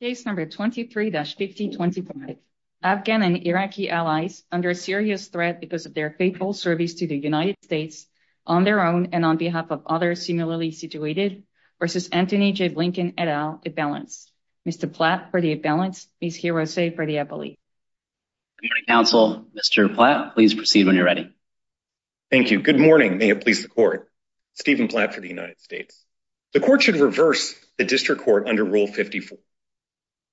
Case number 23-1525, Afghan and Iraqi allies under serious threat because of their faithful service to the United States on their own and on behalf of others similarly situated versus Antony J. Blinken et al. imbalance. Mr. Platt for the imbalance, Ms. Hirose for the appellee. Good morning, counsel. Mr. Platt, please proceed when you're ready. Thank you. Good morning. May it please the court. Stephen Platt for the United States. The court should reverse the district court under Rule 54.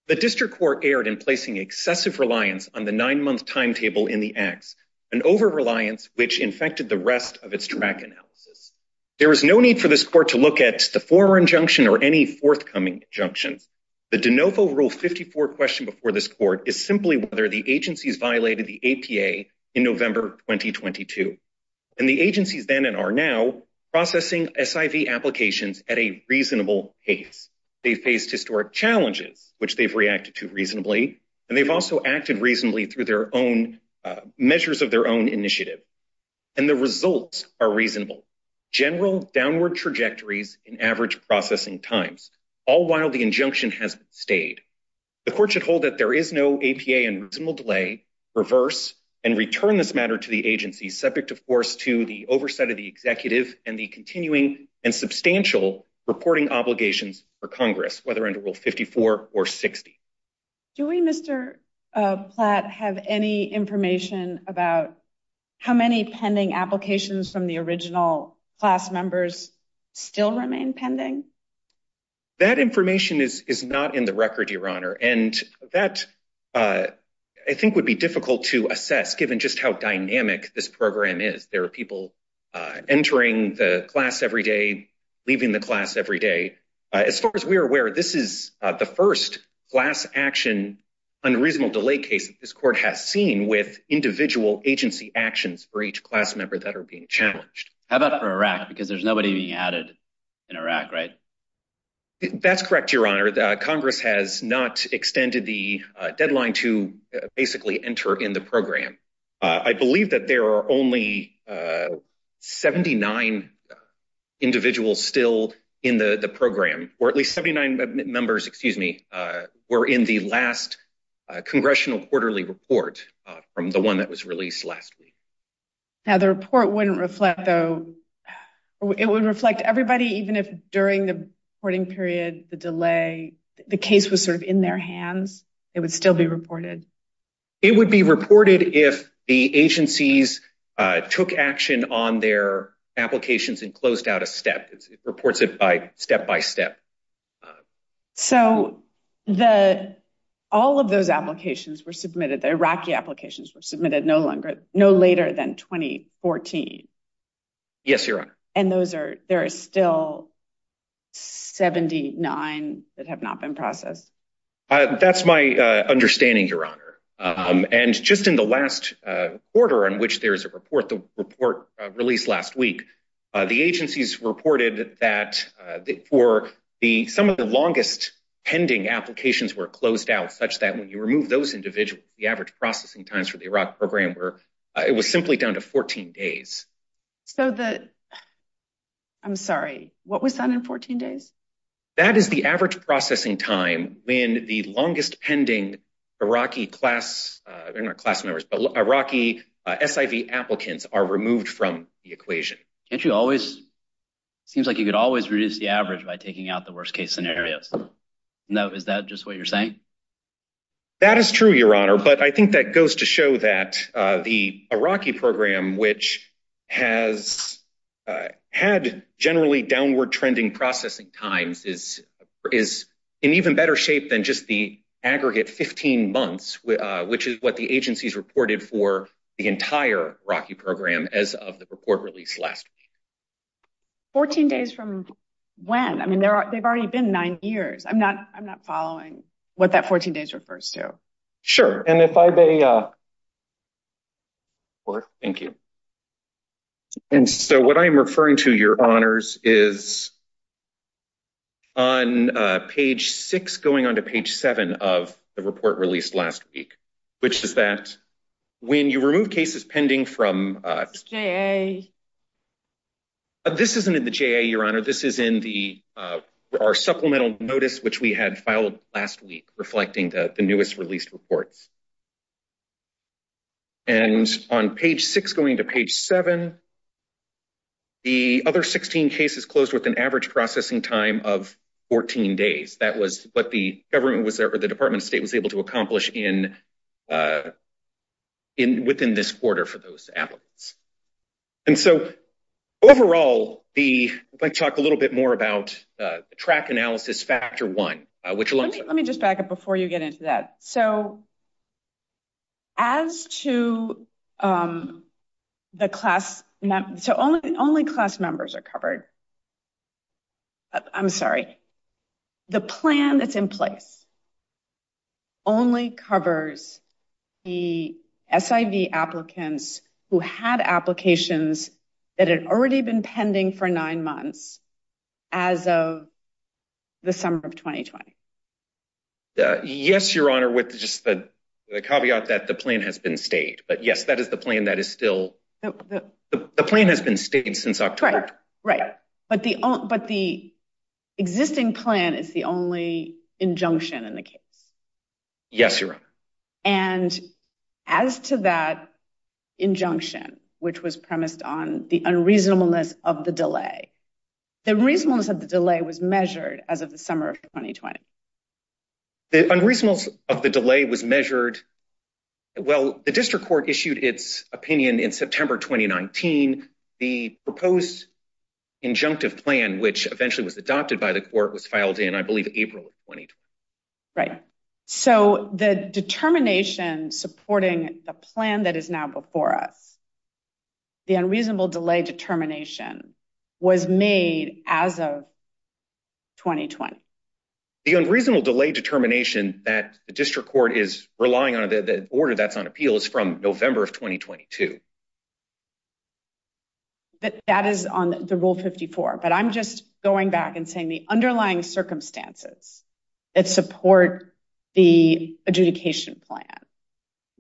The district court erred in placing excessive reliance on the nine-month timetable in the acts, an over-reliance which infected the rest of its track analysis. There is no need for this court to look at the former injunction or any forthcoming injunctions. The de novo Rule 54 question before this court is simply whether the agencies violated the APA in November 2022. And the agencies then and are now processing SIV applications at a reasonable pace. They faced historic challenges which they've reacted to reasonably and they've also acted reasonably through their own measures of their own initiative and the results are reasonable. General downward trajectories in average processing times, all while the injunction has stayed. The court should hold that there is no APA and reasonable delay, reverse and return this matter to the agency, subject of course to the oversight of the executive and the continuing and substantial reporting obligations for Congress, whether under Rule 54 or 60. Do we, Mr. Platt, have any information about how many pending applications from the original class members still remain pending? That information is is not in the record, Your Honor, and that I think would be difficult to assess given just how dynamic this program is. There are people entering the class every day, leaving the class every day. As far as we are aware, this is the first class action unreasonable delay case this court has seen with individual agency actions for each class member that are being challenged. How about for Iraq? Because there's nobody being added in Iraq, right? That's correct, Your Honor. Congress has not extended the deadline to basically enter in the program. I believe that there are only 79 individuals still in the program, or at least 79 members, excuse me, were in the last congressional quarterly report from the one that was released last week. Now the report wouldn't reflect though, it would reflect everybody, even if during the reporting period, the delay, the case was sort of in their hands, it would still be reported. It would be reported if the agencies took action on their applications and closed out a step. It reports it by step by step. So all of those applications were submitted, the Iraqi applications were submitted no longer, no later than 2014. Yes, Your Honor. And those are, there are still 79 that have not been processed. That's my understanding, Your Honor. And just in the last quarter in which there is a report, the report released last week, the agencies reported that for some of the longest pending applications were closed out such that when you remove those individuals, the average processing times for the Iraq program were, it was simply down to 14 days. So the, I'm sorry, what was that in 14 days? That is the average processing time when the longest pending Iraqi class, they're not class members, but Iraqi SIV applicants are removed from the equation. Can't you always, it seems like you could always reduce the average by taking out the worst case scenarios. No, is that just what you're saying? That is true, Your Honor, but I think that goes to show that the Iraqi program, which has had generally downward trending processing times is in even better shape than just the aggregate 15 months, which is what the agencies reported for the entire Iraqi program as of the report released last week. 14 days from when? I mean, they've already been nine years. I'm not following what that 14 days refers to. Sure. And if I may, thank you. And so what I'm referring to, Your Honors, is on page six, going on to page seven of the report released last week, which is that when you remove cases pending from, this isn't in the JA, Your Honor, this is in the, our supplemental notice, which we had filed last week, reflecting the newest released reports. And on page six, going to page seven, the other 16 cases closed with an average processing time of 14 days. That was what the government was, or the Department of State was able to accomplish in, within this quarter for those applicants. And so overall, the, I'd like to talk a little bit more about the track analysis factor one, which- Let me just back up before you get into that. So as to the class, so only class members are covered. I'm sorry. The plan that's in place only covers the SIV applicants who had applications that had already been pending for nine months as of the summer of 2020. Yes, Your Honor, with just the caveat that the plan has been stayed, but yes, that is the plan that is still, the plan has been stayed since October. Right. But the existing plan is the only injunction in the case. Yes, Your Honor. And as to that injunction, which was premised on the unreasonableness of the delay, the reasonableness of the delay was measured as of the summer of 2020. The unreasonableness of the delay was measured, well, the district court issued its opinion in September, 2019. The proposed injunctive plan, which eventually was adopted by the court, was filed in, I believe, April of 2020. Right. So the determination supporting the plan that is now before us, the unreasonable delay determination was made as of 2020. The unreasonable delay determination that the district court is relying on, the order that's on appeal is from November of 2022. That is on the Rule 54, but I'm just going back and saying the underlying circumstances that support the adjudication plan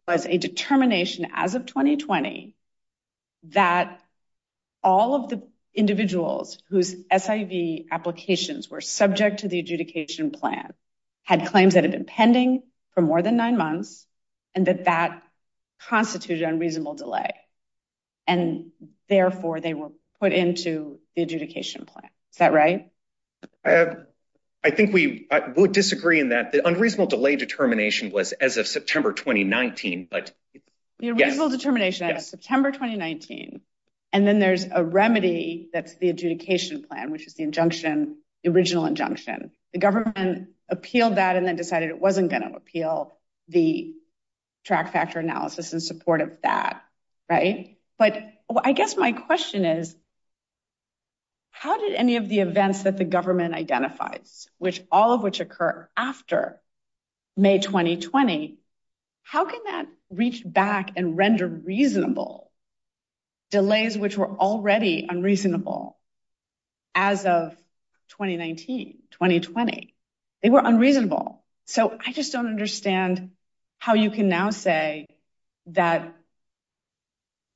was a determination as of 2020 that all of the individuals whose SIV applications were subject to the adjudication plan had claims that had been pending for more than nine months, and that that constituted unreasonable delay. And therefore, they were put into the adjudication plan. Is that right? I think we would disagree in that the unreasonable delay determination was as of September, 2019. The unreasonable determination as of September, 2019, and then there's a remedy that's the adjudication plan, which is the injunction, the original injunction. The government appealed that and then decided it wasn't going to appeal the track factor analysis in support of that. Right. But I guess my question is, how did any of the events that the government identifies, which all of which occur after May 2020, how can that reach back and render reasonable delays, which were already unreasonable as of 2019, 2020? They were unreasonable. So I just don't understand how you can now say that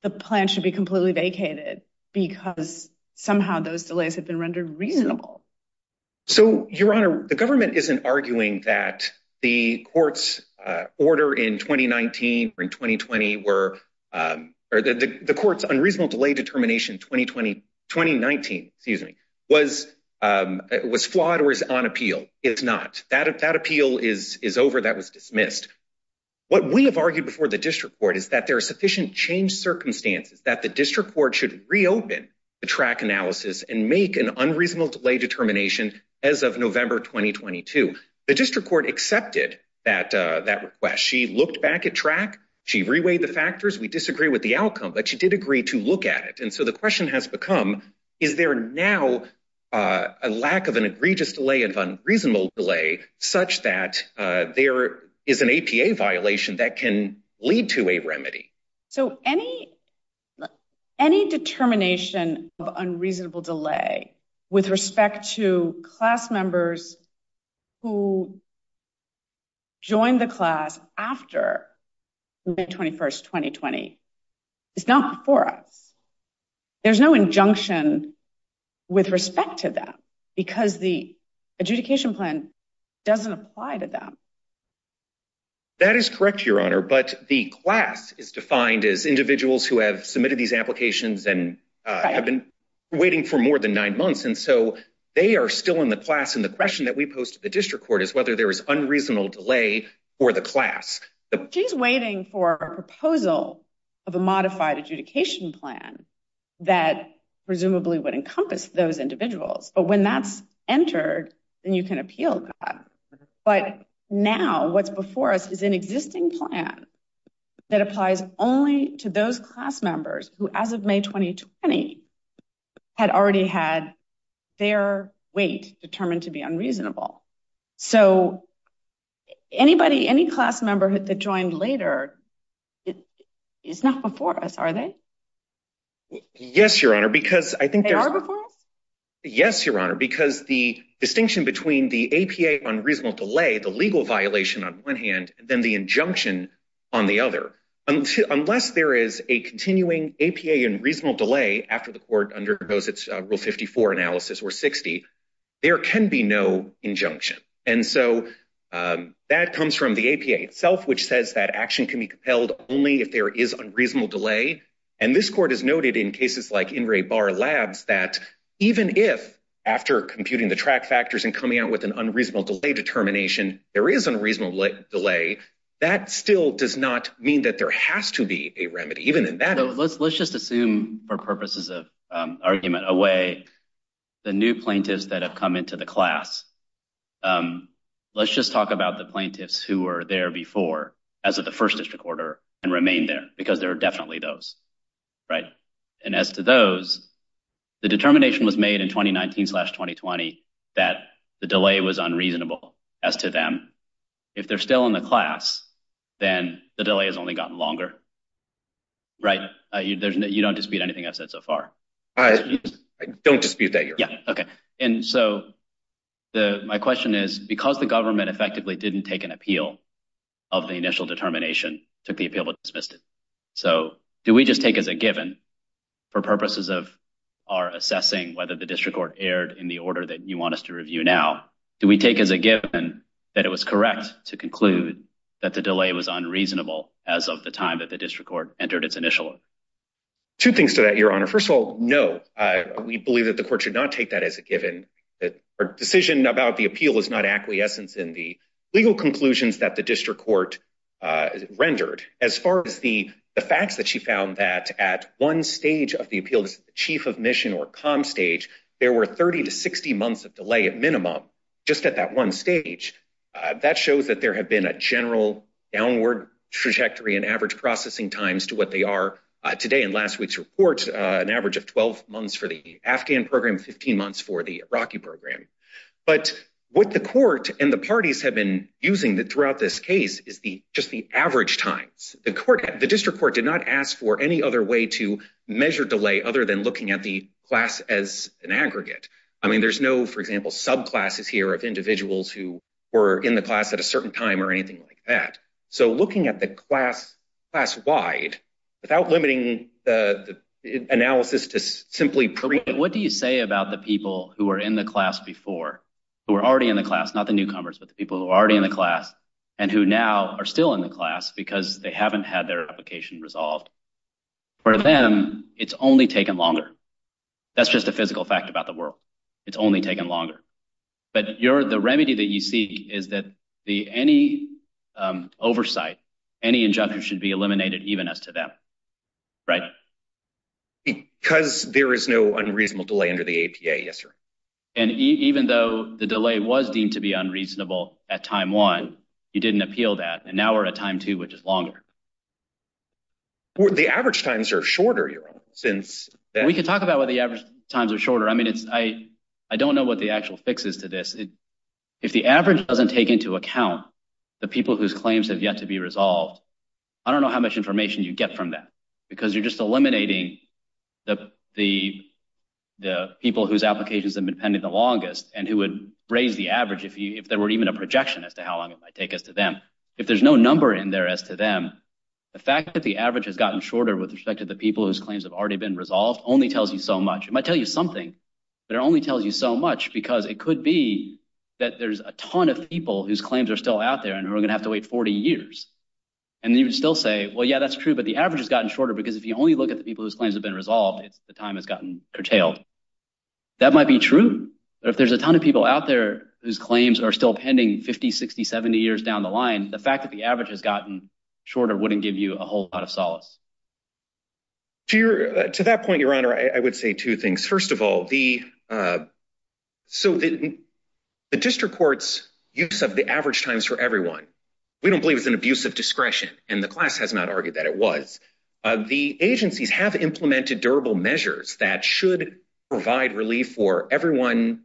the plan should be completely vacated because somehow those delays have been rendered reasonable. So, Your Honor, the government isn't arguing that the court's order in 2019 or in 2020 were, or that the court's unreasonable delay determination in 2019 was flawed or is on appeal. It's not. That appeal is over. That was dismissed. What we have argued before the district court is that there are sufficient change circumstances that the district court should reopen the track analysis and make an unreasonable delay determination as of November 2022. The district court accepted that request. She looked back at track. She reweighed the factors. We disagree with the outcome, but she did agree to look at it. And so the question has become, is there now a lack of an egregious delay of unreasonable delay such that there is an APA violation that can lead to a remedy? So any determination of unreasonable delay with respect to class members who joined the class after May 21st, 2020 is not before us. There's no injunction with respect to that because the adjudication plan doesn't apply to them. That is correct, Your Honor, but the class is defined as individuals who have submitted these and so they are still in the class. And the question that we posed to the district court is whether there is unreasonable delay for the class. She's waiting for a proposal of a modified adjudication plan that presumably would encompass those individuals. But when that's entered, then you can appeal that. But now what's before us is an existing plan that applies only to those class members who, as of May 2020, had already had their weight determined to be unreasonable. So any class member that joined later is not before us, are they? Yes, Your Honor, because the distinction between the APA unreasonable delay, the legal violation on one hand, then the injunction on the other. Unless there is a continuing APA unreasonable delay after the court undergoes its Rule 54 analysis or 60, there can be no injunction. And so that comes from the APA itself, which says that action can be compelled only if there is unreasonable delay. And this court has noted in cases like In Re Bar Labs that even if, after computing the track factors and coming out with an unreasonable delay determination, there is unreasonable delay, that still does not mean that there has to be a remedy. Let's just assume for purposes of argument away the new plaintiffs that have come into the class. Let's just talk about the plaintiffs who were there before as of the first district order and remain there because there are definitely those, right? And as to those, the determination was made in 2019-2020 that the delay was unreasonable as to them. If they're still in the class, then the delay has only gotten longer, right? You don't dispute anything I've said so far. I don't dispute that, Your Honor. Yeah, okay. And so my question is, because the government effectively didn't take an appeal of the initial determination, took the appeal but assessing whether the district court erred in the order that you want us to review now, do we take as a given that it was correct to conclude that the delay was unreasonable as of the time that the district court entered its initial? Two things to that, Your Honor. First of all, no. We believe that the court should not take that as a given that our decision about the appeal is not acquiescence in the legal conclusions that the district court rendered. As far as the facts that she found that at one stage of the appeal, the chief of mission or comm stage, there were 30 to 60 months of delay at minimum just at that one stage. That shows that there have been a general downward trajectory in average processing times to what they are today in last week's report, an average of 12 months for the Afghan program, 15 months for the Iraqi program. But what the court and the parties have been using throughout this case is just the average times. The district court did not ask for any other way to measure delay other than looking at the class as an aggregate. I mean, there's no, for example, subclasses here of individuals who were in the class at a certain time or anything like that. So looking at the class wide without limiting the analysis to simply... What do you say about the people who were in the class before, who were already in the class, not the newcomers, but the people who are already in class and who now are still in the class because they haven't had their application resolved. For them, it's only taken longer. That's just a physical fact about the world. It's only taken longer. But the remedy that you see is that any oversight, any injunction should be eliminated even as to them, right? Because there is no unreasonable delay under the APA. Yes, sir. And even though the delay was deemed to be unreasonable at time one, you didn't appeal that. And now we're at time two, which is longer. The average times are shorter, since... We can talk about what the average times are shorter. I mean, I don't know what the actual fix is to this. If the average doesn't take into account the people whose claims have yet to be resolved, I don't know how much information you get from that because you're just eliminating the people whose applications have been pending the longest and who would raise the average if there were even a projection as to how long it might take as to them. If there's no number in there as to them, the fact that the average has gotten shorter with respect to the people whose claims have already been resolved only tells you so much. It might tell you something, but it only tells you so much because it could be that there's a ton of people whose claims are still out there and who are going to have to wait 40 years. And you would still say, well, that's true, but the average has gotten shorter because if you only look at the people whose claims have been resolved, the time has gotten curtailed. That might be true, but if there's a ton of people out there whose claims are still pending 50, 60, 70 years down the line, the fact that the average has gotten shorter wouldn't give you a whole lot of solace. To that point, Your Honor, I would say two things. First of all, the district court's use of the average times for everyone, we don't believe it's an abuse of discretion, and the class has not argued that it was. The agencies have implemented durable measures that should provide relief for everyone,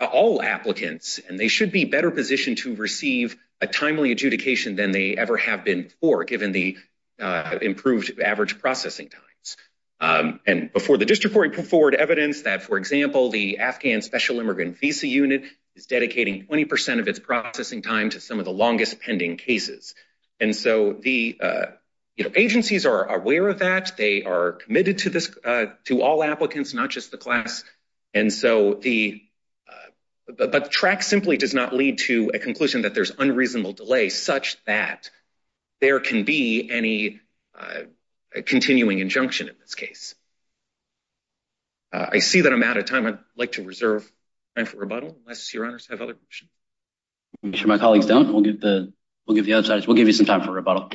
all applicants, and they should be better positioned to receive a timely adjudication than they ever have been before, given the improved average processing times. And before the district court put forward evidence that, for example, the Afghan Special Immigrant Visa Unit is dedicating 20 percent of its processing time to some of the the agencies are aware of that. They are committed to all applicants, not just the class. But track simply does not lead to a conclusion that there's unreasonable delay such that there can be any continuing injunction in this case. I see that I'm out of time. I'd like to reserve time for rebuttal unless Your Honors have other make sure my colleagues don't. We'll give the we'll give the other side. We'll give you some time for rebuttal.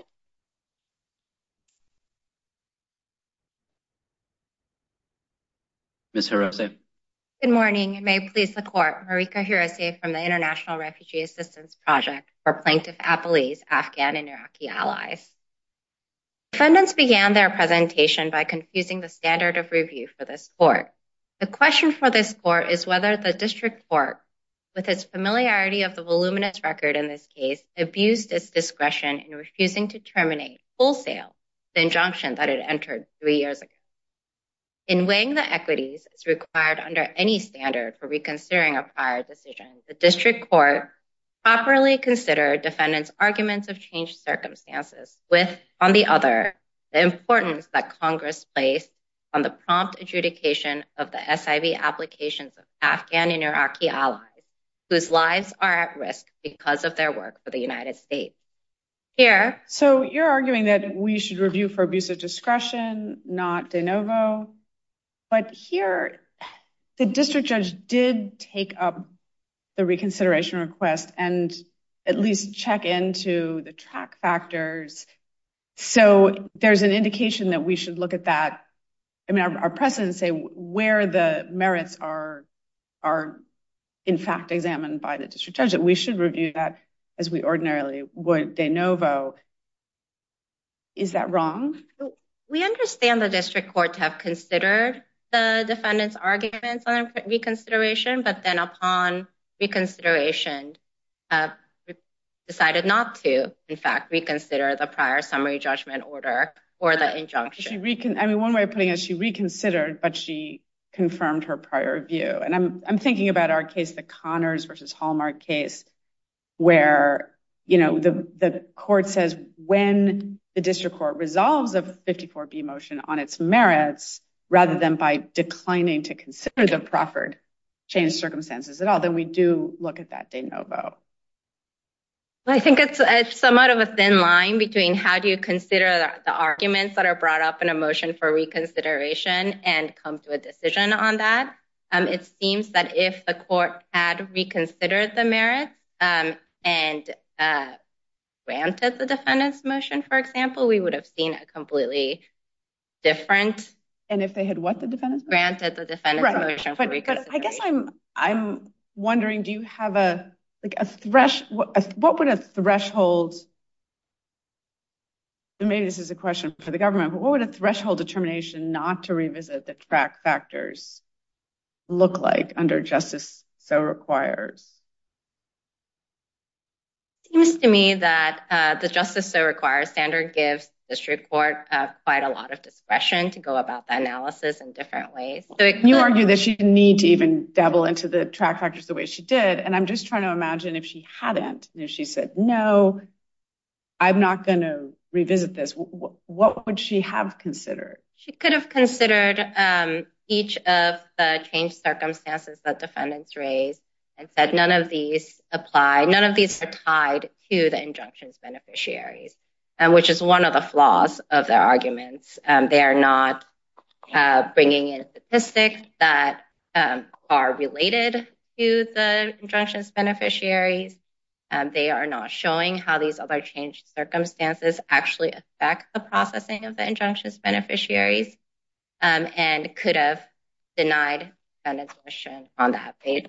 Miss Harris. Good morning. You may please the court. Marika here is safe from the International Refugee Assistance Project for plaintiff appellees, Afghan and Iraqi allies. Defendants began their presentation by confusing the standard of review for this court. The question for this court is whether the district court, with its familiarity of the voluminous record in this case, abused its discretion in refusing to terminate wholesale the injunction that it entered three years ago. In weighing the equities required under any standard for reconsidering a prior decision, the district court properly considered defendants' arguments of changed circumstances with, on the other, the importance that Congress placed on the prompt adjudication of the SIV applications of Afghan and Iraqi allies whose lives are at risk because of their work for the United States. So you're arguing that we should review for abuse of discretion, not de novo, but here the district judge did take up the reconsideration request and at least check into the track factors. So there's an indication that we should look at that. I mean, our precedents say where the merits are, in fact, examined by the district judge, that we should review that as we ordinarily would de novo. Is that wrong? We understand the district courts have considered the defendants' arguments on reconsideration, but then upon reconsideration decided not to, in fact, reconsider the prior summary judgment order or the injunction. I mean, one way of putting it, she reconsidered, but she confirmed her prior view. And I'm thinking about our case, the Connors versus Hallmark case, where the court says when the district court resolves a 54B motion on its merits, rather than by declining to consider the proffered changed circumstances at all, then we do look at that de novo. I think it's somewhat of a thin line between how do you consider the arguments that are brought up in a motion for reconsideration and come to a decision on that. It seems that if the court had reconsidered the merits and granted the defendant's motion, for example, we would have seen a completely different... And if they had what, the defendant's motion? Granted the defendant's motion for reconsideration. Right, but I guess I'm wondering, do you have a, like a thresh, what would a threshold, maybe this is a question for the government, but what would a threshold determination not to revisit the track factors look like under justice so requires? It seems to me that the justice so requires standard gives the district court quite a lot of discretion to go about the analysis in different ways. You argue that she didn't need to even dabble into the track factors the way she did. And I'm just trying to imagine if she hadn't, and if she said, no, I'm not going to revisit this, what would she have considered? She could have considered each of the changed circumstances that defendants raised and said, none of these apply, none of these are tied to the injunctions beneficiaries, which is one of the flaws of their arguments. They are not bringing in statistics that are related to the injunctions beneficiaries. They are not showing how these other changed circumstances actually affect the processing of the injunctions beneficiaries and could have denied the motion on that page.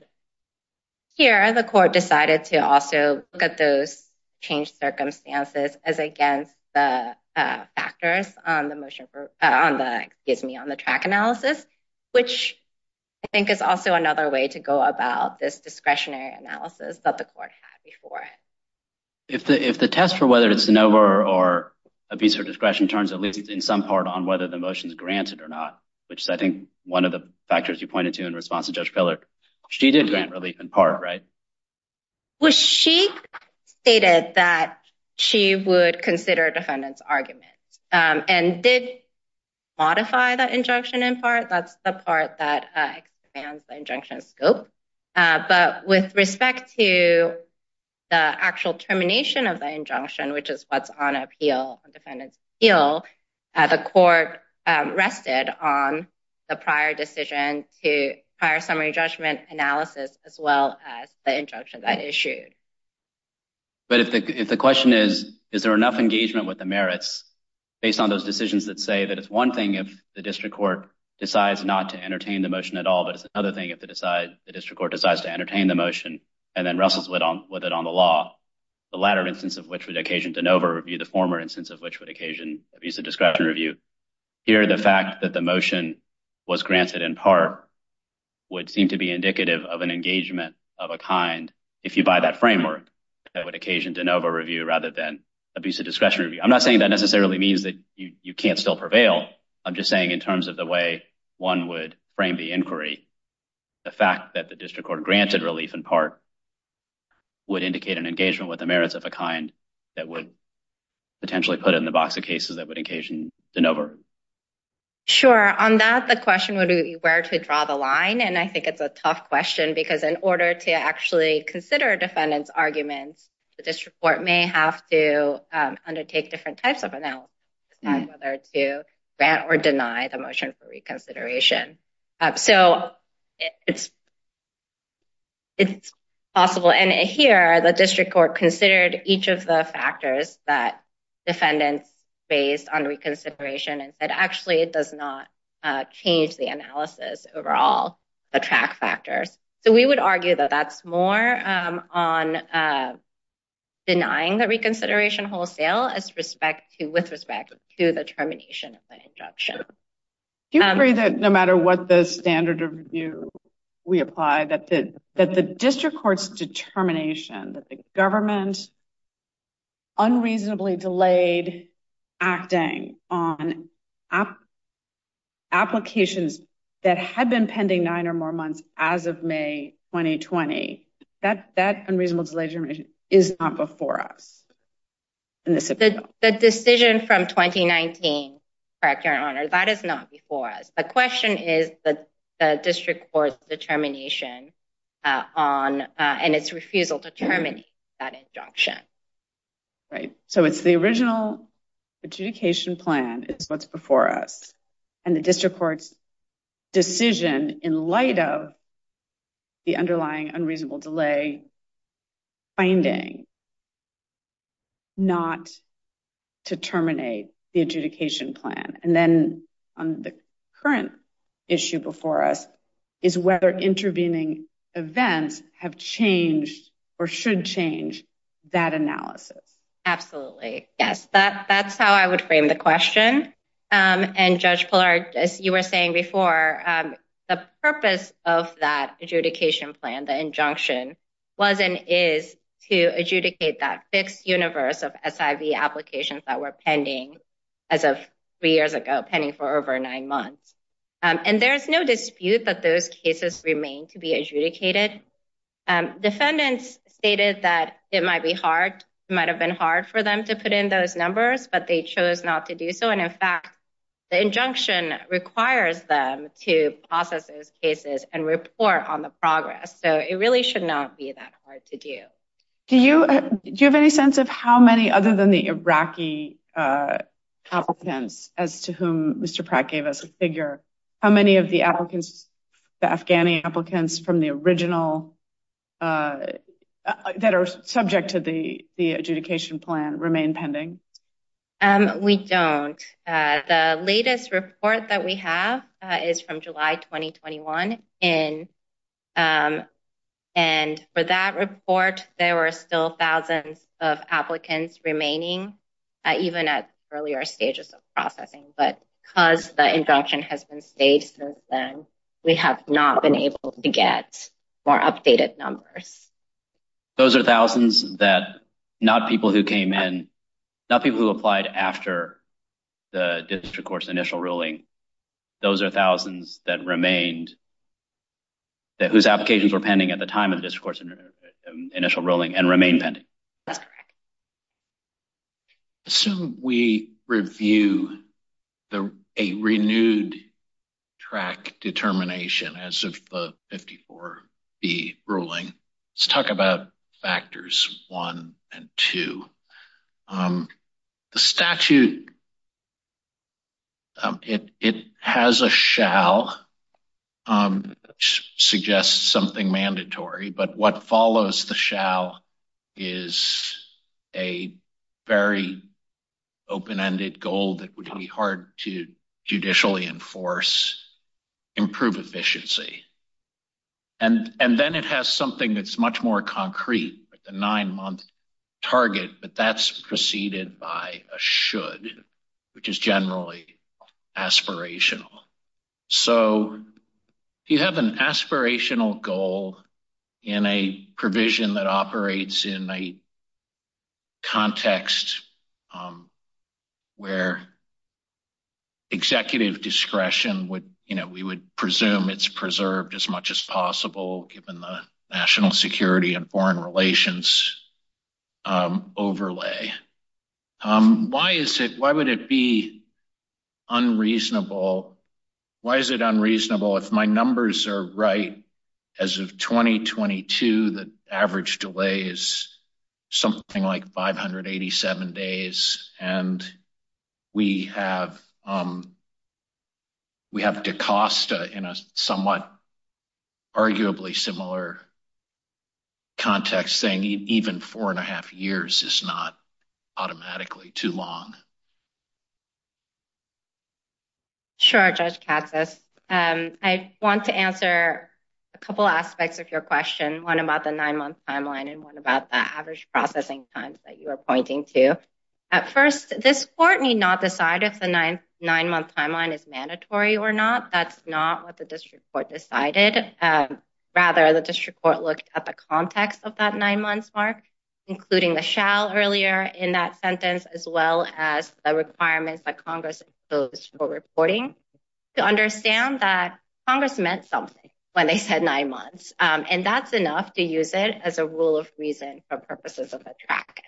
Here, the court decided to also look at those changed circumstances as against the factors on the motion, on the, excuse me, on the track analysis, which I think is also another way to go about this discretionary analysis that the court had before. If the test for whether it's ANOVA or abuse of discretion turns at least in some part on whether the motion is granted or not, which is I think one of the factors you pointed to in response to Judge Pillar, she did grant relief in part, right? She stated that she would consider defendants' arguments and did modify the injunction in part. That's the part that expands the injunction scope. But with respect to the actual termination of the injunction, which is what's on appeal, the defendant's appeal, the court rested on the prior decision to prior summary judgment analysis as well as the injunction that issued. But if the question is, is there enough engagement with the merits based on those decisions that say that it's one thing if the district court decides not to entertain the motion at all, but it's another thing if the district court decides to entertain the motion and then wrestles with it on the law, the latter instance of which would occasion ANOVA review, the former instance of which would occasion abuse of discretion review. Here, the fact that the motion was granted in part would seem to be indicative of an engagement of a kind, if you buy that framework, that would occasion ANOVA review rather than abuse of discretion review. I'm not saying that necessarily means that you can't still prevail. I'm just saying in terms of the way one would frame the inquiry, the fact that the district court granted relief in part would indicate an engagement with the merits of a kind that would potentially put it in the box of cases that would occasion ANOVA. Sure. On that, the question would be where to draw the line. And I think it's a tough question because in order to actually consider a defendant's arguments, the district court may have to undertake different types of analysis on whether to grant or deny the motion for reconsideration. So it's possible. And here, the district court considered each of the factors that defendants based on reconsideration and said, actually, it does not change the analysis overall, the track factors. So we would argue that that's more on denying the reconsideration wholesale as respect to, with respect to the termination of the injunction. Do you agree that no matter what the standard of review we apply, that the district court's determination that the government unreasonably delayed acting on applications that had been pending nine or more months as of May 2020, that unreasonable delay is not before us? The decision from 2019, correct, Your Honor, that is not before us. The question is that refusal to terminate that injunction. Right. So it's the original adjudication plan is what's before us. And the district court's decision in light of the underlying unreasonable delay finding not to terminate the adjudication plan. And then on the current issue before us is whether intervening events have changed or should change that analysis. Absolutely. Yes. That's how I would frame the question. And Judge Pillar, as you were saying before, the purpose of that adjudication plan, the injunction, was and is to adjudicate that fixed universe of SIV applications that were pending as of three years ago, pending for over nine months. And there is no dispute that those cases remain to be adjudicated. Defendants stated that it might be hard, might have been hard for them to put in those numbers, but they chose not to do so. And in fact, the injunction requires them to process those cases and report on the progress. So it really should not be that hard to do. Do you have any sense of how many other than the Iraqi applicants as to whom Mr. Pratt gave us a figure, how many of the applicants, the Afghani applicants from the original that are subject to the adjudication plan remain pending? We don't. The latest report that we have is from July 2021. And for that report, there were still thousands of applicants remaining, even at earlier stages of processing. But because the injunction has been stated since then, we have not been able to get more updated numbers. Those are thousands that not people who came in, not people who applied after the district court's initial ruling. Those are thousands that remained, that whose applications were pending at the time of the district court's initial ruling and remain pending. That's correct. Assume we review a renewed track determination as of the 54B ruling. Let's talk about factors one and two. The statute, it has a shall, which suggests something mandatory. But what follows the shall is a very open-ended goal that would be hard to judicially enforce, improve efficiency. And then it has something that's much more concrete, the nine-month target, but that's preceded by a should, which is generally aspirational. So you have an aspirational goal in a provision that operates in a context where executive discretion would, you know, we would it's preserved as much as possible given the national security and foreign relations overlay. Why is it, why would it be unreasonable, why is it unreasonable if my numbers are right as of 2022, the average delay is something like 587 days. And we have, um, we have DaCosta in a somewhat arguably similar context saying even four and a half years is not automatically too long. Sure, Judge Katsas. I want to answer a couple aspects of your question, one about the nine-month timeline and one about the average processing times that you are pointing to. At first, this court need not decide if the nine-month timeline is mandatory or not, that's not what the district court decided. Rather, the district court looked at the context of that nine-months mark, including the shall earlier in that sentence, as well as the requirements that Congress imposed for reporting to understand that Congress meant something when they said nine months. And that's enough to use it as a rule of reason for purposes of the track.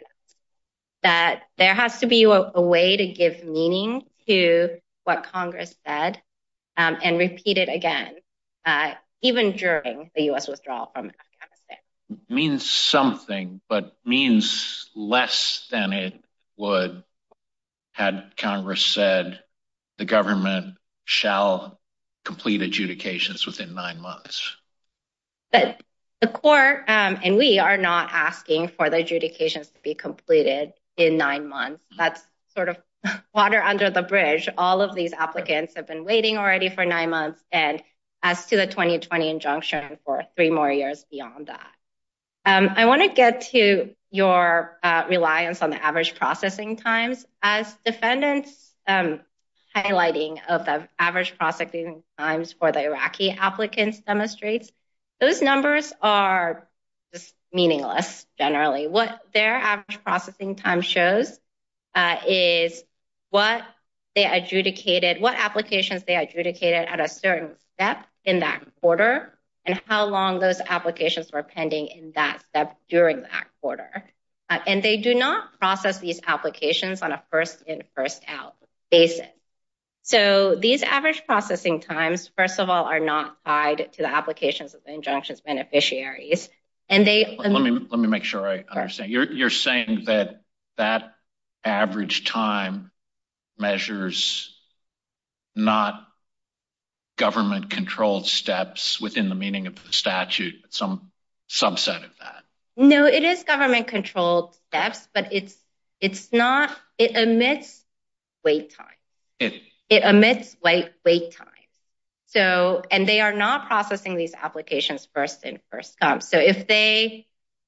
That there has to be a way to give meaning to what Congress said and repeat it again, even during the U.S. withdrawal from Afghanistan. Means something, but means less than it would had Congress said the government shall complete adjudications within nine months. But the court and we are not asking for the adjudications to be completed in nine months. That's sort of water under the bridge. All of these applicants have been waiting already for nine months and as to the 2020 injunction for three more years beyond that. I want to get to your reliance on the average processing times as defendants highlighting of the average processing times for the Iraqi applicants demonstrates. Those numbers are meaningless generally. What their average processing time shows is what they adjudicated, what applications they adjudicated at a certain step in that quarter and how long those applications were pending in that step during that quarter. And they do not process these applications on a first in first out basis. So these average processing times, first of all, are not tied to the applications of the injunctions beneficiaries and they let me let me make sure I understand you're saying that that average time measures, not government controlled steps within the meaning of the statute, some subset of that. No, it is government controlled steps, but it's it's not it emits wait time. It emits wait wait time. So and they are not processing these applications first in first. So if they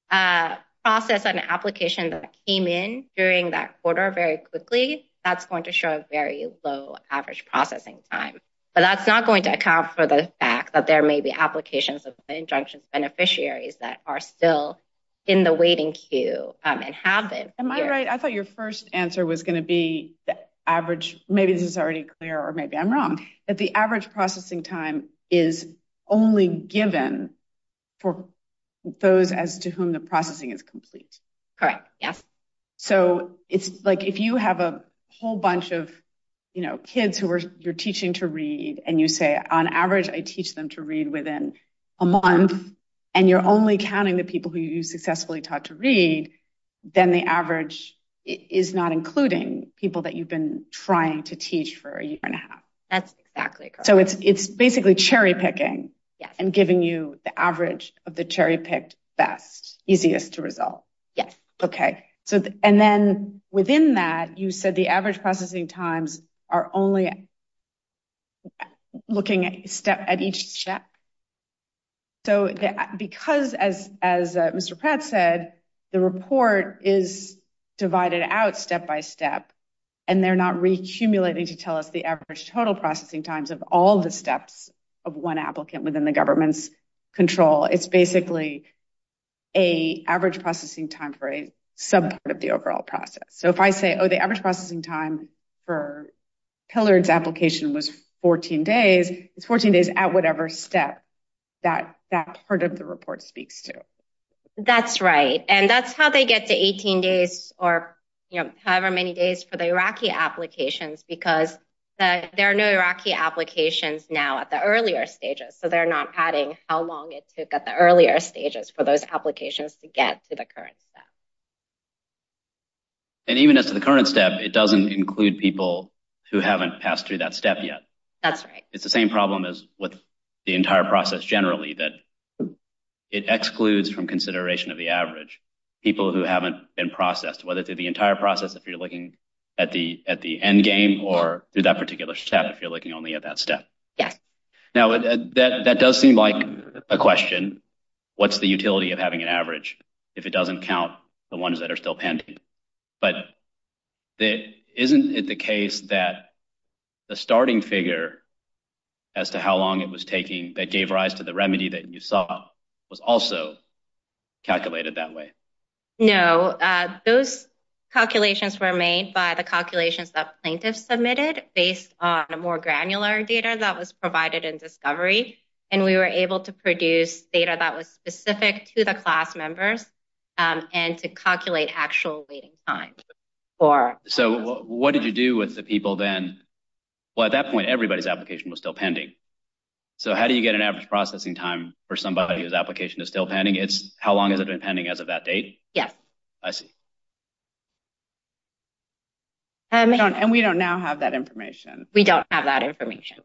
process an application that came in during that quarter very quickly, that's going to show a very low average processing time. But that's not going to account for the fact that there may be applications of injunctions beneficiaries that are still in the waiting queue and have been. Am I right? I thought your first answer was going to be the average. Maybe this is already clear or maybe I'm wrong that the average processing time is only given for those as to whom the processing is complete. Correct. Yes. So it's like if you have a whole bunch of kids who you're teaching to read and you say, on average, I teach them to read within a month and you're only counting the people who you successfully taught to read, then the average is not including people that you've been trying to teach for a year and a half. That's exactly. So it's it's basically cherry picking and giving you the average of the cherry picked best easiest to result. Yes. OK. So and then within that, you said the average processing times are only looking at step at each step. So because, as Mr. Pratt said, the report is divided out step by step and they're not recumulating to tell us the average total processing times of all the steps of one applicant within the government's control. It's basically a average processing time for a sub part of the overall process. So if I say, oh, the average processing time for Pillard's application was 14 days, it's 14 days at whatever step that that part of the report speaks to. That's right. And that's how they get to 18 days or however many days for the Iraqi applications, because there are no Iraqi applications now at the earlier stages. So they're not adding how long it took at the earlier stages for those applications. So as a current step, it doesn't include people who haven't passed through that step yet. That's right. It's the same problem as with the entire process generally, that it excludes from consideration of the average people who haven't been processed, whether through the entire process, if you're looking at the at the end game or through that particular step, if you're looking only at that step. Yes. Now, that does seem like a question. What's the utility of having an average if it doesn't count the ones that are still pending? But isn't it the case that the starting figure as to how long it was taking that gave rise to the remedy that you saw was also calculated that way? No, those calculations were made by the calculations that plaintiffs submitted based on a more granular data that was provided in discovery. And we were able to produce data that was specific to the class members and to calculate actual waiting time. So what did you do with the people then? Well, at that point, everybody's application was still pending. So how do you get an average processing time for somebody whose application is still pending? It's how long has it been pending as of that date? Yes. I see. And we don't now have that information. We don't have that information.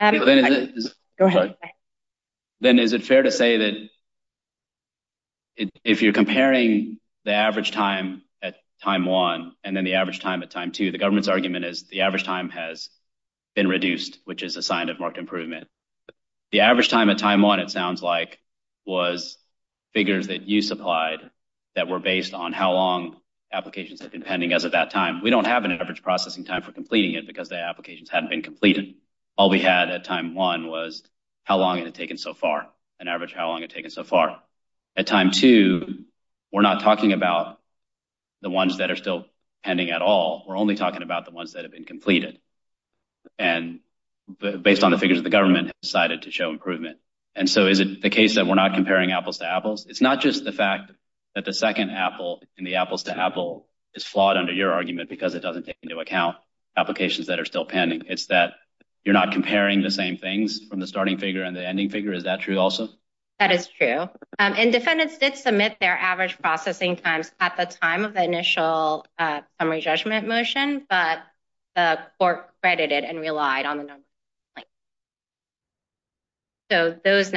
Go ahead. Then is it fair to say that if you're comparing the average time at time one and then the average time at time two, the government's argument is the average time has been reduced, which is a sign of marked improvement. The average time at time one, it sounds like, was figures that you supplied that were based on how long applications have been pending as at that time. We don't have an average processing time for completing it because the applications hadn't been completed. All we had at time one was how long it had taken so far, an average how long it had taken so far. At time two, we're not talking about the ones that are still pending at all. We're only talking about the ones that have been completed. And based on the figures, the government decided to show improvement. And so is it the case that we're not comparing apples to apples? It's not just the fact that the second apple in the apples to apple is flawed under your argument because it doesn't take into account applications that are still pending. It's that you're not comparing the same things from the starting figure and the ending figure. Is that true also? That is true. And defendants did submit their average processing times at the time of the initial summary judgment motion, but the court credited and relied on the numbers. So those of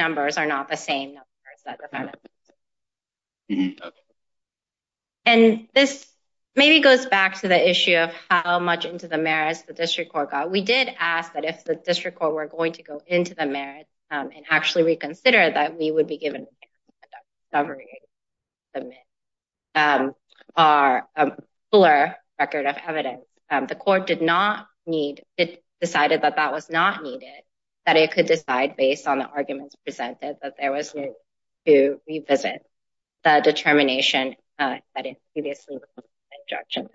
how much into the merits the district court got. We did ask that if the district court were going to go into the merits and actually reconsider that we would be given a fuller record of evidence. The court decided that that was not needed, that it could decide based on the arguments presented that there was need to revisit the determination that is previously in the injunction.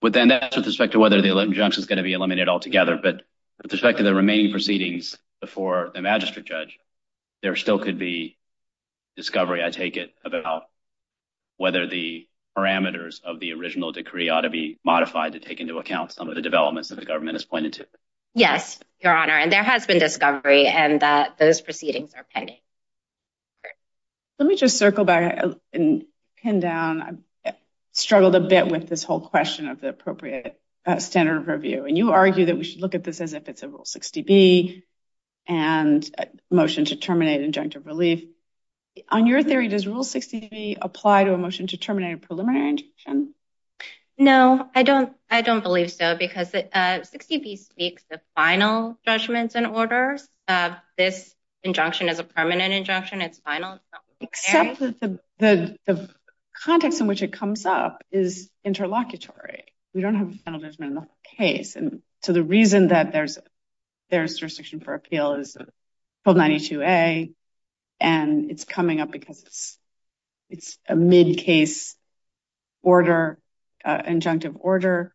But then that's with respect to whether the injunction is going to be eliminated altogether, but with respect to the remaining proceedings before the magistrate judge, there still could be discovery, I take it, about whether the parameters of the original decree ought to be modified to take into account some of the developments that the government has pointed to. Yes, Your Honor, and there has been discovery and that those proceedings are pending. Let me just circle back and pin down. I've struggled a bit with this whole question of the appropriate standard of review. And you argue that we should look at this as if it's a Rule 60B and a motion to terminate injunctive relief. On your theory, does Rule 60B apply to a motion to terminate a preliminary injunction? No, I don't. I don't believe so because 60B speaks to final judgments and orders. This injunction is a permanent injunction. It's final. Except that the context in which it comes up is interlocutory. We don't have a final judgment in the case. And so the reason that there's a restriction for appeal is 1292A and it's coming up because it's a mid-case order, injunctive order,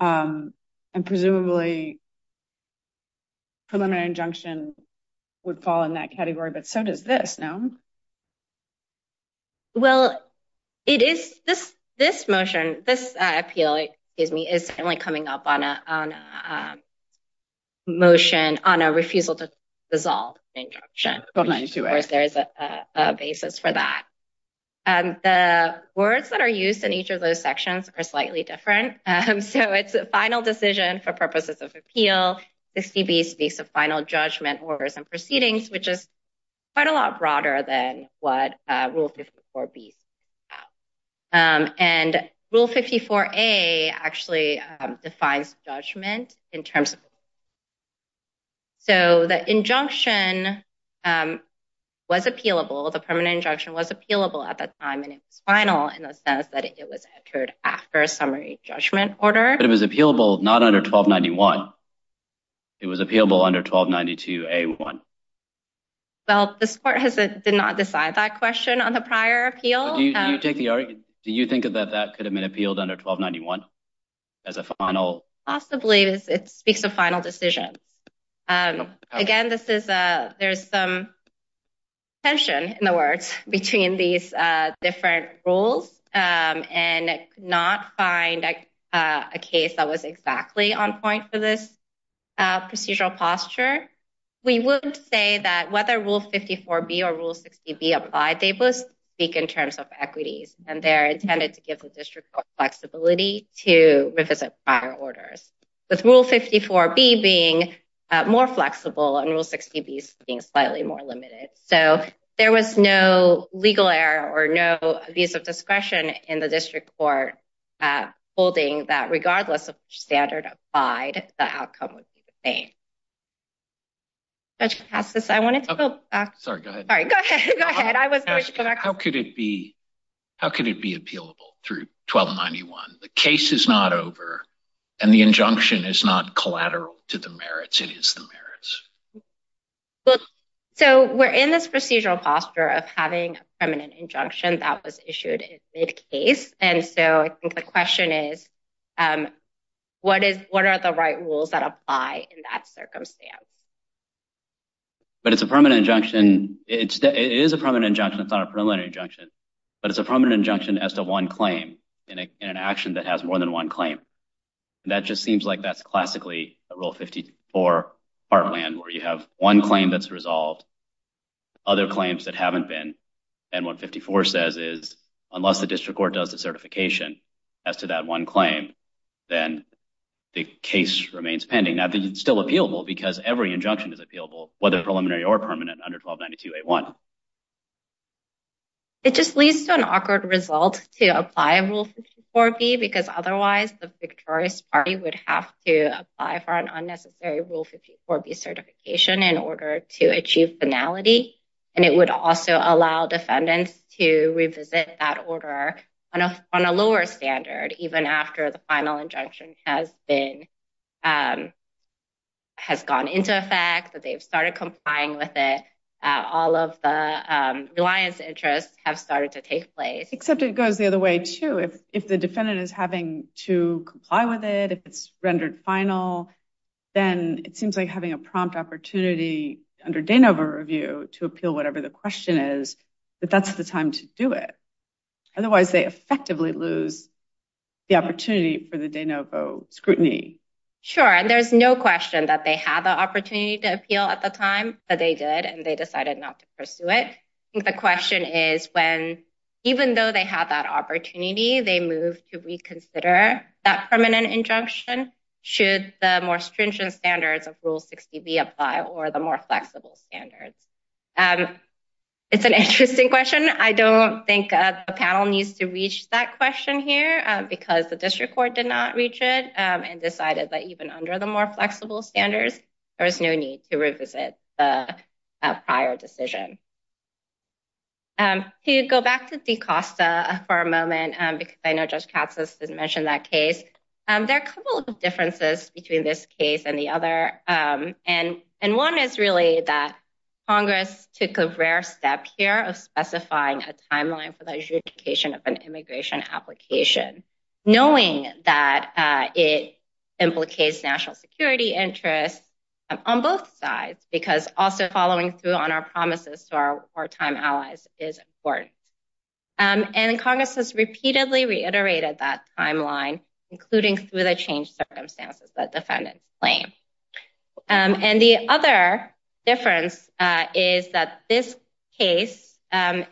and presumably preliminary injunction would fall in that category. But so does this, no? Well, it is this motion, this appeal, excuse me, is certainly coming up on a refusal to dissolve injunction. Of course, there is a basis for that. The words that are used in each of those sections are slightly different. So it's a final decision for purposes of appeal. 60B speaks of final judgment orders and proceedings, which is quite a lot broader than what Rule 54B speaks about. And Rule 54A actually defines judgment in terms of. So the injunction was appealable, the permanent injunction was appealable at that time, and it was final in the sense that it was entered after a summary judgment order. But it was appealable not under 1291. It was appealable under 1292A1. Well, this court did not decide that question on the prior appeal. Do you think that that could have been appealed under 1291 as a final? Possibly it speaks of final decisions. Again, there's some tension in the words between these different rules and not find a case that was exactly on point for this procedural posture. We would say that whether Rule 54B or Rule 60B apply, they both speak in with Rule 54B being more flexible and Rule 60B being slightly more limited. So there was no legal error or no abuse of discretion in the district court holding that regardless of which standard applied, the outcome would be the same. Judge Kapaskis, I wanted to go back. Sorry, go ahead. All right, go ahead. Go ahead. I was going to ask you, how could it be? 1291. The case is not over and the injunction is not collateral to the merits. It is the merits. So we're in this procedural posture of having a permanent injunction that was issued in mid-case. And so I think the question is, what are the right rules that apply in that circumstance? But it's a permanent injunction. It is a permanent injunction. It's not a preliminary injunction. But it's a permanent injunction as to one claim in an action that has more than one claim. And that just seems like that's classically a Rule 54 heartland where you have one claim that's resolved, other claims that haven't been. And what 54 says is unless the district court does the certification as to that one claim, then the case remains pending. Now, it's still appealable because every injunction is appealable, whether preliminary or permanent under 1292A1. So it just leads to an awkward result to apply Rule 54B because otherwise the victorious party would have to apply for an unnecessary Rule 54B certification in order to achieve finality. And it would also allow defendants to revisit that order on a lower standard, even after the final injunction has gone into effect, that they've started complying with it, all of the reliance interests have started to take place. Except it goes the other way, too. If the defendant is having to comply with it, if it's rendered final, then it seems like having a prompt opportunity under de novo review to appeal whatever the question is, that that's the time to do it. Otherwise, they effectively lose the opportunity for the de novo scrutiny. Sure. And there's no question that they had the opportunity to appeal at the time, but they did and they decided not to pursue it. I think the question is when, even though they had that opportunity, they moved to reconsider that permanent injunction. Should the more stringent standards of Rule 60B apply or the more flexible standards? It's an interesting question. I don't think a panel needs to reach that question here because the district court did not reach it and decided that even under the more flexible standards, there is no need to revisit the prior decision. To go back to DeCosta for a moment, because I know Judge Katz has mentioned that case, there are a couple of differences between this case and the other. And one is really that Congress took a rare step here of specifying a timeline for the adjudication of an immigration application, knowing that it implicates national security interests on both sides, because also following through on our promises to our wartime allies is important. And Congress has repeatedly reiterated that timeline, including through the changed circumstances that defendants claim. And the other difference is that this case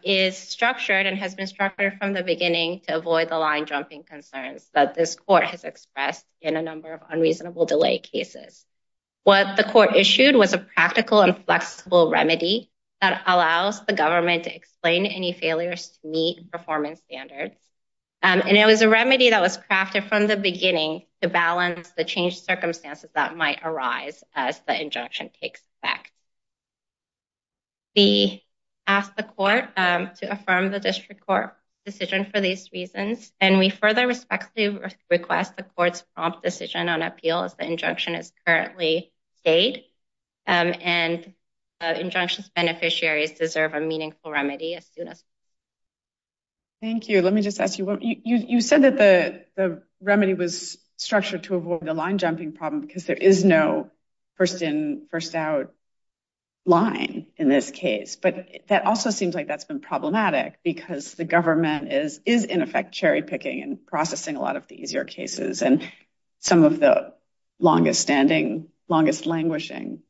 is structured and has been structured from the line-jumping concerns that this court has expressed in a number of unreasonable delay cases. What the court issued was a practical and flexible remedy that allows the government to explain any failures to meet performance standards. And it was a remedy that was crafted from the beginning to balance the changed circumstances that might arise as the injunction takes effect. We ask the court to affirm the district court decision for these reasons. And we further respectfully request the court's prompt decision on appeal as the injunction is currently stayed. And injunctions beneficiaries deserve a meaningful remedy as soon as possible. Thank you. Let me just ask you, you said that the remedy was structured to avoid the line-jumping problem because there is no first-in, first-out line in this case. But that also seems like that's been problematic because the government is in effect cherry-picking and processing a lot of the easier cases. And some of the longest-standing, longest-languishing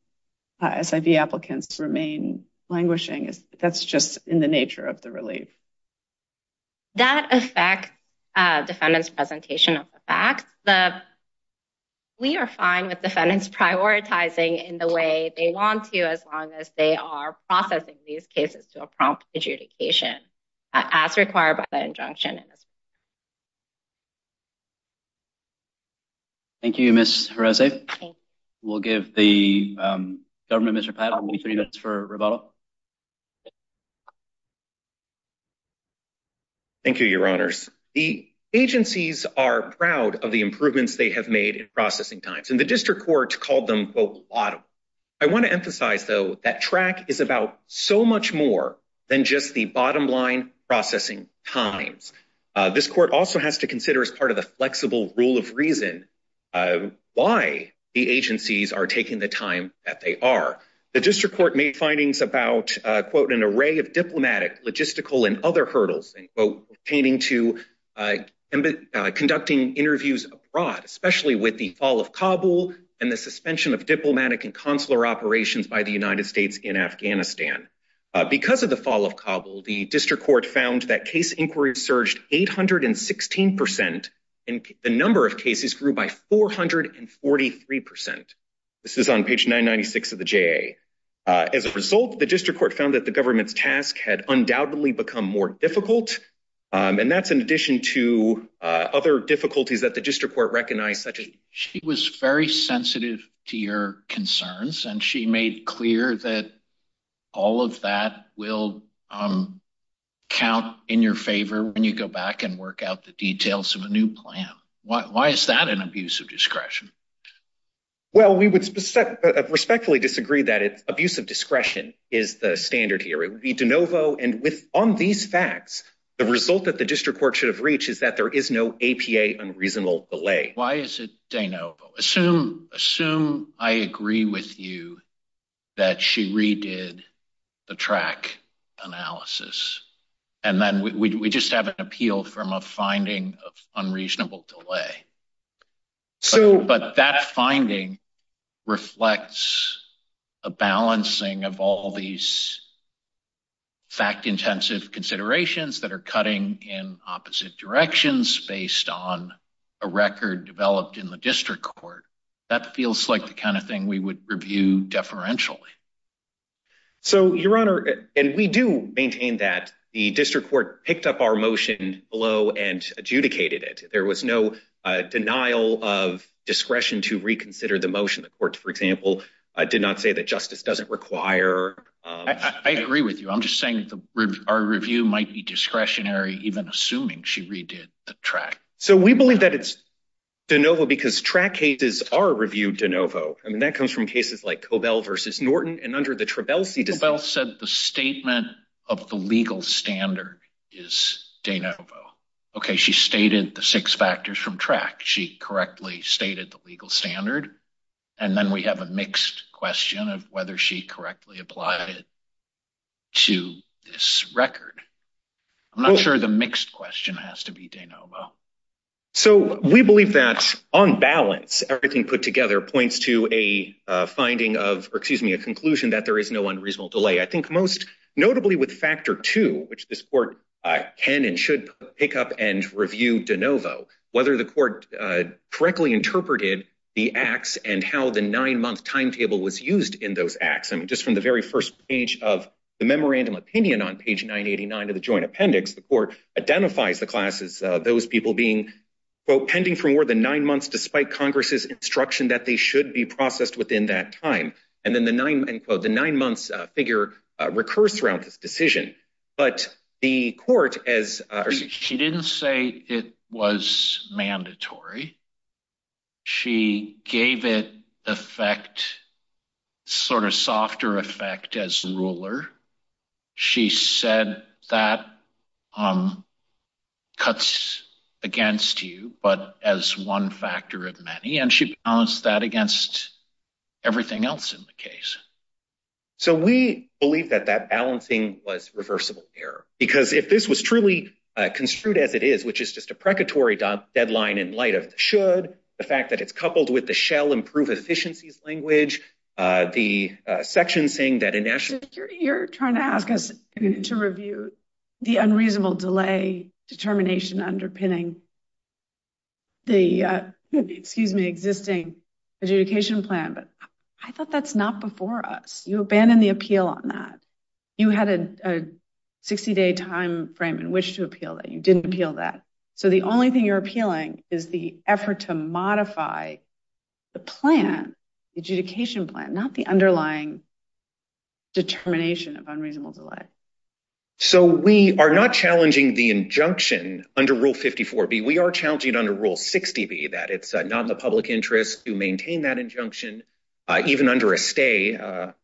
SIV applicants remain languishing. That's just in the nature of the relief. That affects defendants' presentation of the facts. We are fine with defendants prioritizing in the way they want to as long as they are processing these cases to a prompt adjudication as required by the injunction. Thank you, Ms. Jerez. We'll give the government Mr. Patel three minutes for rebuttal. Thank you, Your Honors. The agencies are proud of the improvements they have made in processing times. And the district court called them, quote, a lot of them. I want to emphasize, though, that track is about so much more than just the bottom-line processing times. This court also has to consider as part of the flexible rule of reason why the agencies are taking the time that they are. The district court made findings about, quote, an array of diplomatic, logistical, and other hurdles, quote, pertaining to conducting interviews abroad, especially with the fall of Kabul and the suspension of diplomatic and consular operations by the United States in Afghanistan. Because of the fall of Kabul, the district court found that case inquiries surged 816 percent, and the number of cases grew by 443 percent. This is on page 996 of the JA. As a result, the district court found that the government's task had undoubtedly become more difficult. And that's in addition to other difficulties that the district court recognized, such as— She was very sensitive to your concerns, and she made clear that all of that will count in your favor when you go back and work out the details of a new plan. Why is that an abuse of discretion? Well, we would respectfully disagree that abuse of discretion is the standard here. It would be de novo. And on these facts, the result that the district court should have reached is that there is no APA unreasonable delay. Why is it de novo? Assume I agree with you that she redid the track analysis, and then we just have an appeal from a finding of unreasonable delay. But that finding reflects a balancing of all these fact-intensive considerations that are cutting in opposite directions based on a record developed in the district court. That feels like the kind of thing we would review deferentially. So, Your Honor, and we do maintain that the denial of discretion to reconsider the motion, the court, for example, did not say that justice doesn't require— I agree with you. I'm just saying our review might be discretionary even assuming she redid the track. So, we believe that it's de novo because track cases are reviewed de novo. I mean, that comes from cases like Cobell v. Norton, and under the Trabelsi decision— Cobell said the statement of the legal standard is de novo. Okay, stated the six factors from track. She correctly stated the legal standard, and then we have a mixed question of whether she correctly applied it to this record. I'm not sure the mixed question has to be de novo. So, we believe that, on balance, everything put together points to a finding of—or, excuse me, a conclusion that there is no unreasonable delay. I think most notably with factor two, which this court can and should pick up and review de novo, whether the court correctly interpreted the acts and how the nine-month timetable was used in those acts. I mean, just from the very first page of the memorandum opinion on page 989 of the joint appendix, the court identifies the class as those people being, quote, pending for more than nine months despite Congress's instruction that they should be processed within that time. And then the nine-month figure recurs throughout this decision. But the court, as— She didn't say it was mandatory. She gave it effect, sort of softer effect, as ruler. She said that cuts against you, but as one factor of many, and she balanced that against everything else in the case. So, we believe that that balancing was reversible error. Because if this was truly construed as it is, which is just a precatory deadline in light of the should, the fact that it's coupled with the shall improve efficiencies language, the section saying that a national— You're trying to ask us to review the unreasonable delay determination underpinning the, excuse me, existing adjudication plan, but I thought that's not before us. You abandoned the appeal on that. You had a 60-day time frame in which to appeal that. You didn't appeal that. So, the only thing you're appealing is the effort to modify the plan, the adjudication plan, not the underlying determination of unreasonable delay. So, we are not challenging the injunction under Rule 54B. We are challenging it under Rule 60B, that it's not in the public interest to maintain that injunction, even under a stay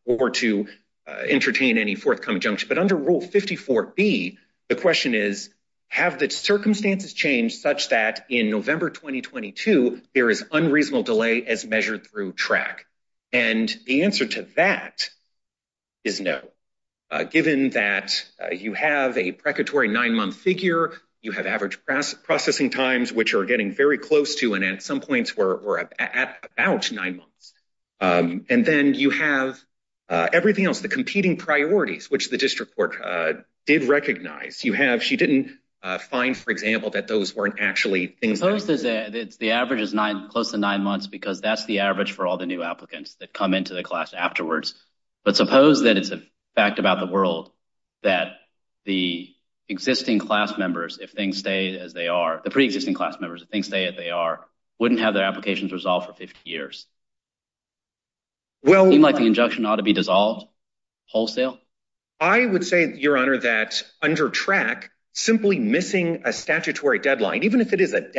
or to entertain any forthcoming injunction. But under Rule 54B, the question is, have the circumstances changed such that in November 2022, there is unreasonable delay as measured through track? And the answer to that is no, given that you have a precatory nine-month figure, you have average processing times, which are getting very close to, and at some points, were at about nine months. And then you have everything else, the competing priorities, which the district court did recognize. You have—she didn't find, for example, that those weren't actually things— The average is close to nine months, because that's the average for all the new applicants that come into the class afterwards. But suppose that it's a fact about the world that the existing class members, if things stay as they are—the pre-existing class members, if things stay as they are, wouldn't have their applications resolved for 50 years. Well— Do you think the injunction ought to be dissolved wholesale? I would say, Your Honor, that under track, simply missing a statutory deadline, even if it is a per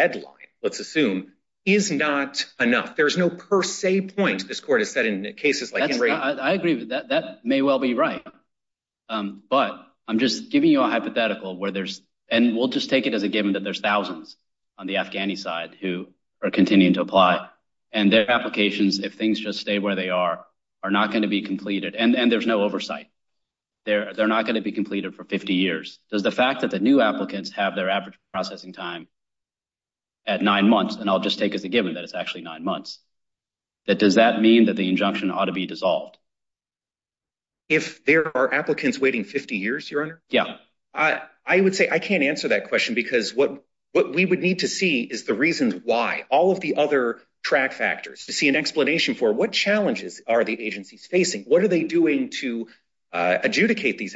se point, this court has said in cases like Henry— I agree with that. That may well be right. But I'm just giving you a hypothetical where there's—and we'll just take it as a given that there's thousands on the Afghani side who are continuing to apply, and their applications, if things just stay where they are, are not going to be completed. And there's no oversight. They're not going to be completed for 50 years. Does the fact that the new applicants have their processing time at nine months—and I'll just take as a given that it's actually nine months—that does that mean that the injunction ought to be dissolved? If there are applicants waiting 50 years, Your Honor, I would say I can't answer that question because what we would need to see is the reasons why. All of the other track factors to see an explanation for what challenges are the agencies facing? What are they doing to adjudicate these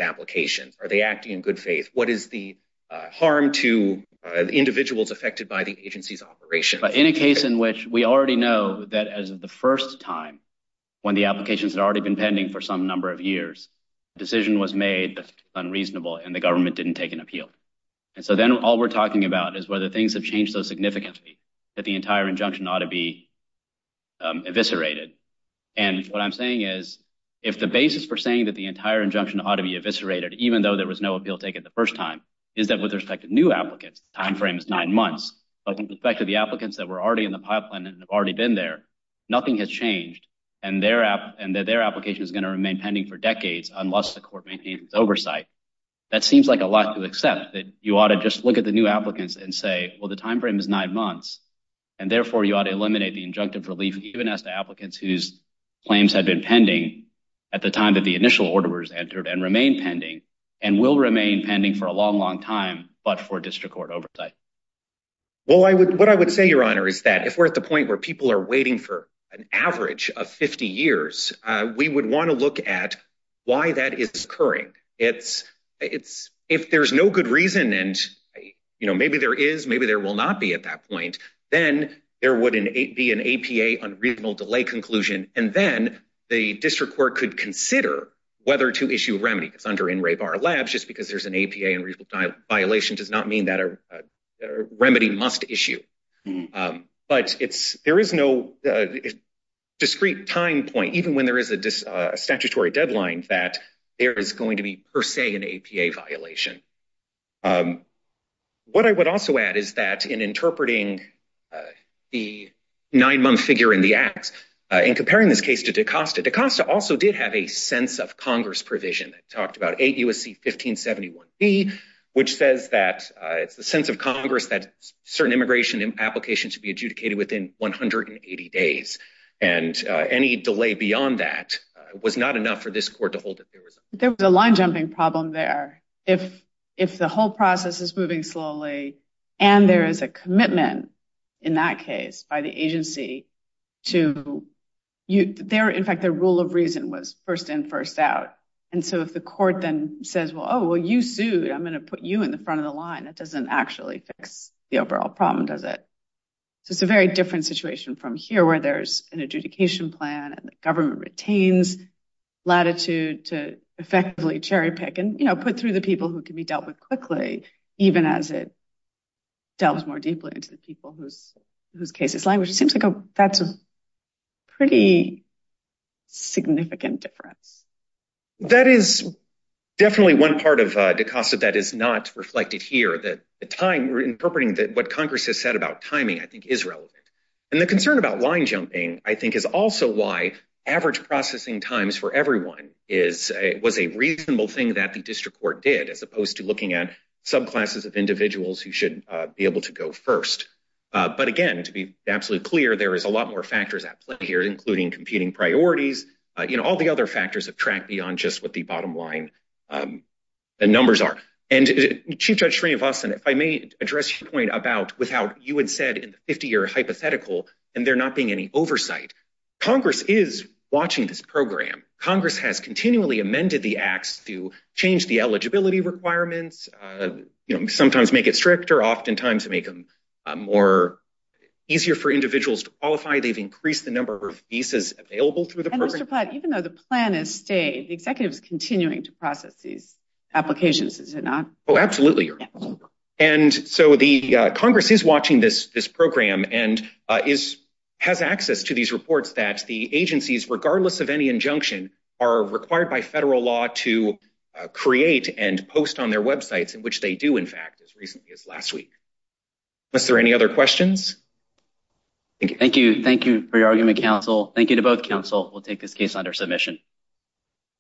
individuals affected by the agency's operation? But in a case in which we already know that as of the first time, when the applications had already been pending for some number of years, a decision was made that's unreasonable and the government didn't take an appeal. And so then all we're talking about is whether things have changed so significantly that the entire injunction ought to be eviscerated. And what I'm saying is, if the basis for saying that the entire injunction ought to be eviscerated, even though there was no applicants, the time frame is nine months, but with respect to the applicants that were already in the pipeline and have already been there, nothing has changed, and their application is going to remain pending for decades unless the court maintains its oversight, that seems like a lot to accept. That you ought to just look at the new applicants and say, well, the time frame is nine months, and therefore you ought to eliminate the injunctive relief, even as the applicants whose claims had been pending at the time that the initial order was entered and remain pending, and will remain pending for a long, long time, but for district court oversight. Well, what I would say, Your Honor, is that if we're at the point where people are waiting for an average of 50 years, we would want to look at why that is occurring. If there's no good reason, and maybe there is, maybe there will not be at that point, then there would be an APA unreasonable delay conclusion, and then the district court could consider whether to issue remedy. It's under NRABAR LAB, just because there's an APA and reasonable violation does not mean that a remedy must issue. But there is no discrete time point, even when there is a statutory deadline, that there is going to be, per se, an APA violation. What I would also add is that in interpreting the nine-month figure in the acts, in comparing this case to DaCosta, DaCosta also did have a sense of Congress provision that talked about 8 U.S.C. 1571b, which says that it's the sense of Congress that certain immigration applications should be adjudicated within 180 days, and any delay beyond that was not enough for this court to hold it. There was a line-jumping problem there. If the whole process is moving slowly, and there is a commitment in that case by the agency to, in fact, the rule of reason was first in, first out, and so if the court then says, well, you sued, I'm going to put you in the front of the line, that doesn't actually fix the overall problem, does it? It's a very different situation from here, where there's an adjudication plan and the government retains latitude to effectively cherry-pick and put through the people who can be dealt with quickly, even as it delves more deeply into the people whose case is language. It seems like that's a pretty significant difference. That is definitely one part of DaCosta that is not reflected here, that the time, interpreting what Congress has said about timing, I think, is relevant, and the concern about line-jumping, I think, is also why average processing times for everyone was a reasonable thing that the district court did, as opposed to looking at subclasses of individuals who should be able to go first. But again, to be absolutely clear, there is a lot more factors at play here, including competing priorities. All the other factors have tracked beyond just what the bottom line numbers are. Chief Judge Srinivasan, if I may address your point about how you had said in the 50-year hypothetical, and there not being any oversight, Congress is watching this program. Congress has continually amended the acts to change the eligibility requirements, sometimes make it stricter, oftentimes make them more easier for individuals to qualify. They've increased the number of visas available through the program. And Mr. Platt, even though the plan has stayed, the executive is continuing to process these applications, is it not? Oh, absolutely. And so Congress is watching this program and has access to these reports that the agencies, regardless of any injunction, are required by federal law to create and post on their websites, in which they do, in fact, as recently as last week. Mr., any other questions? Thank you. Thank you for your argument, counsel. Thank you to both counsel. We'll take this case under submission.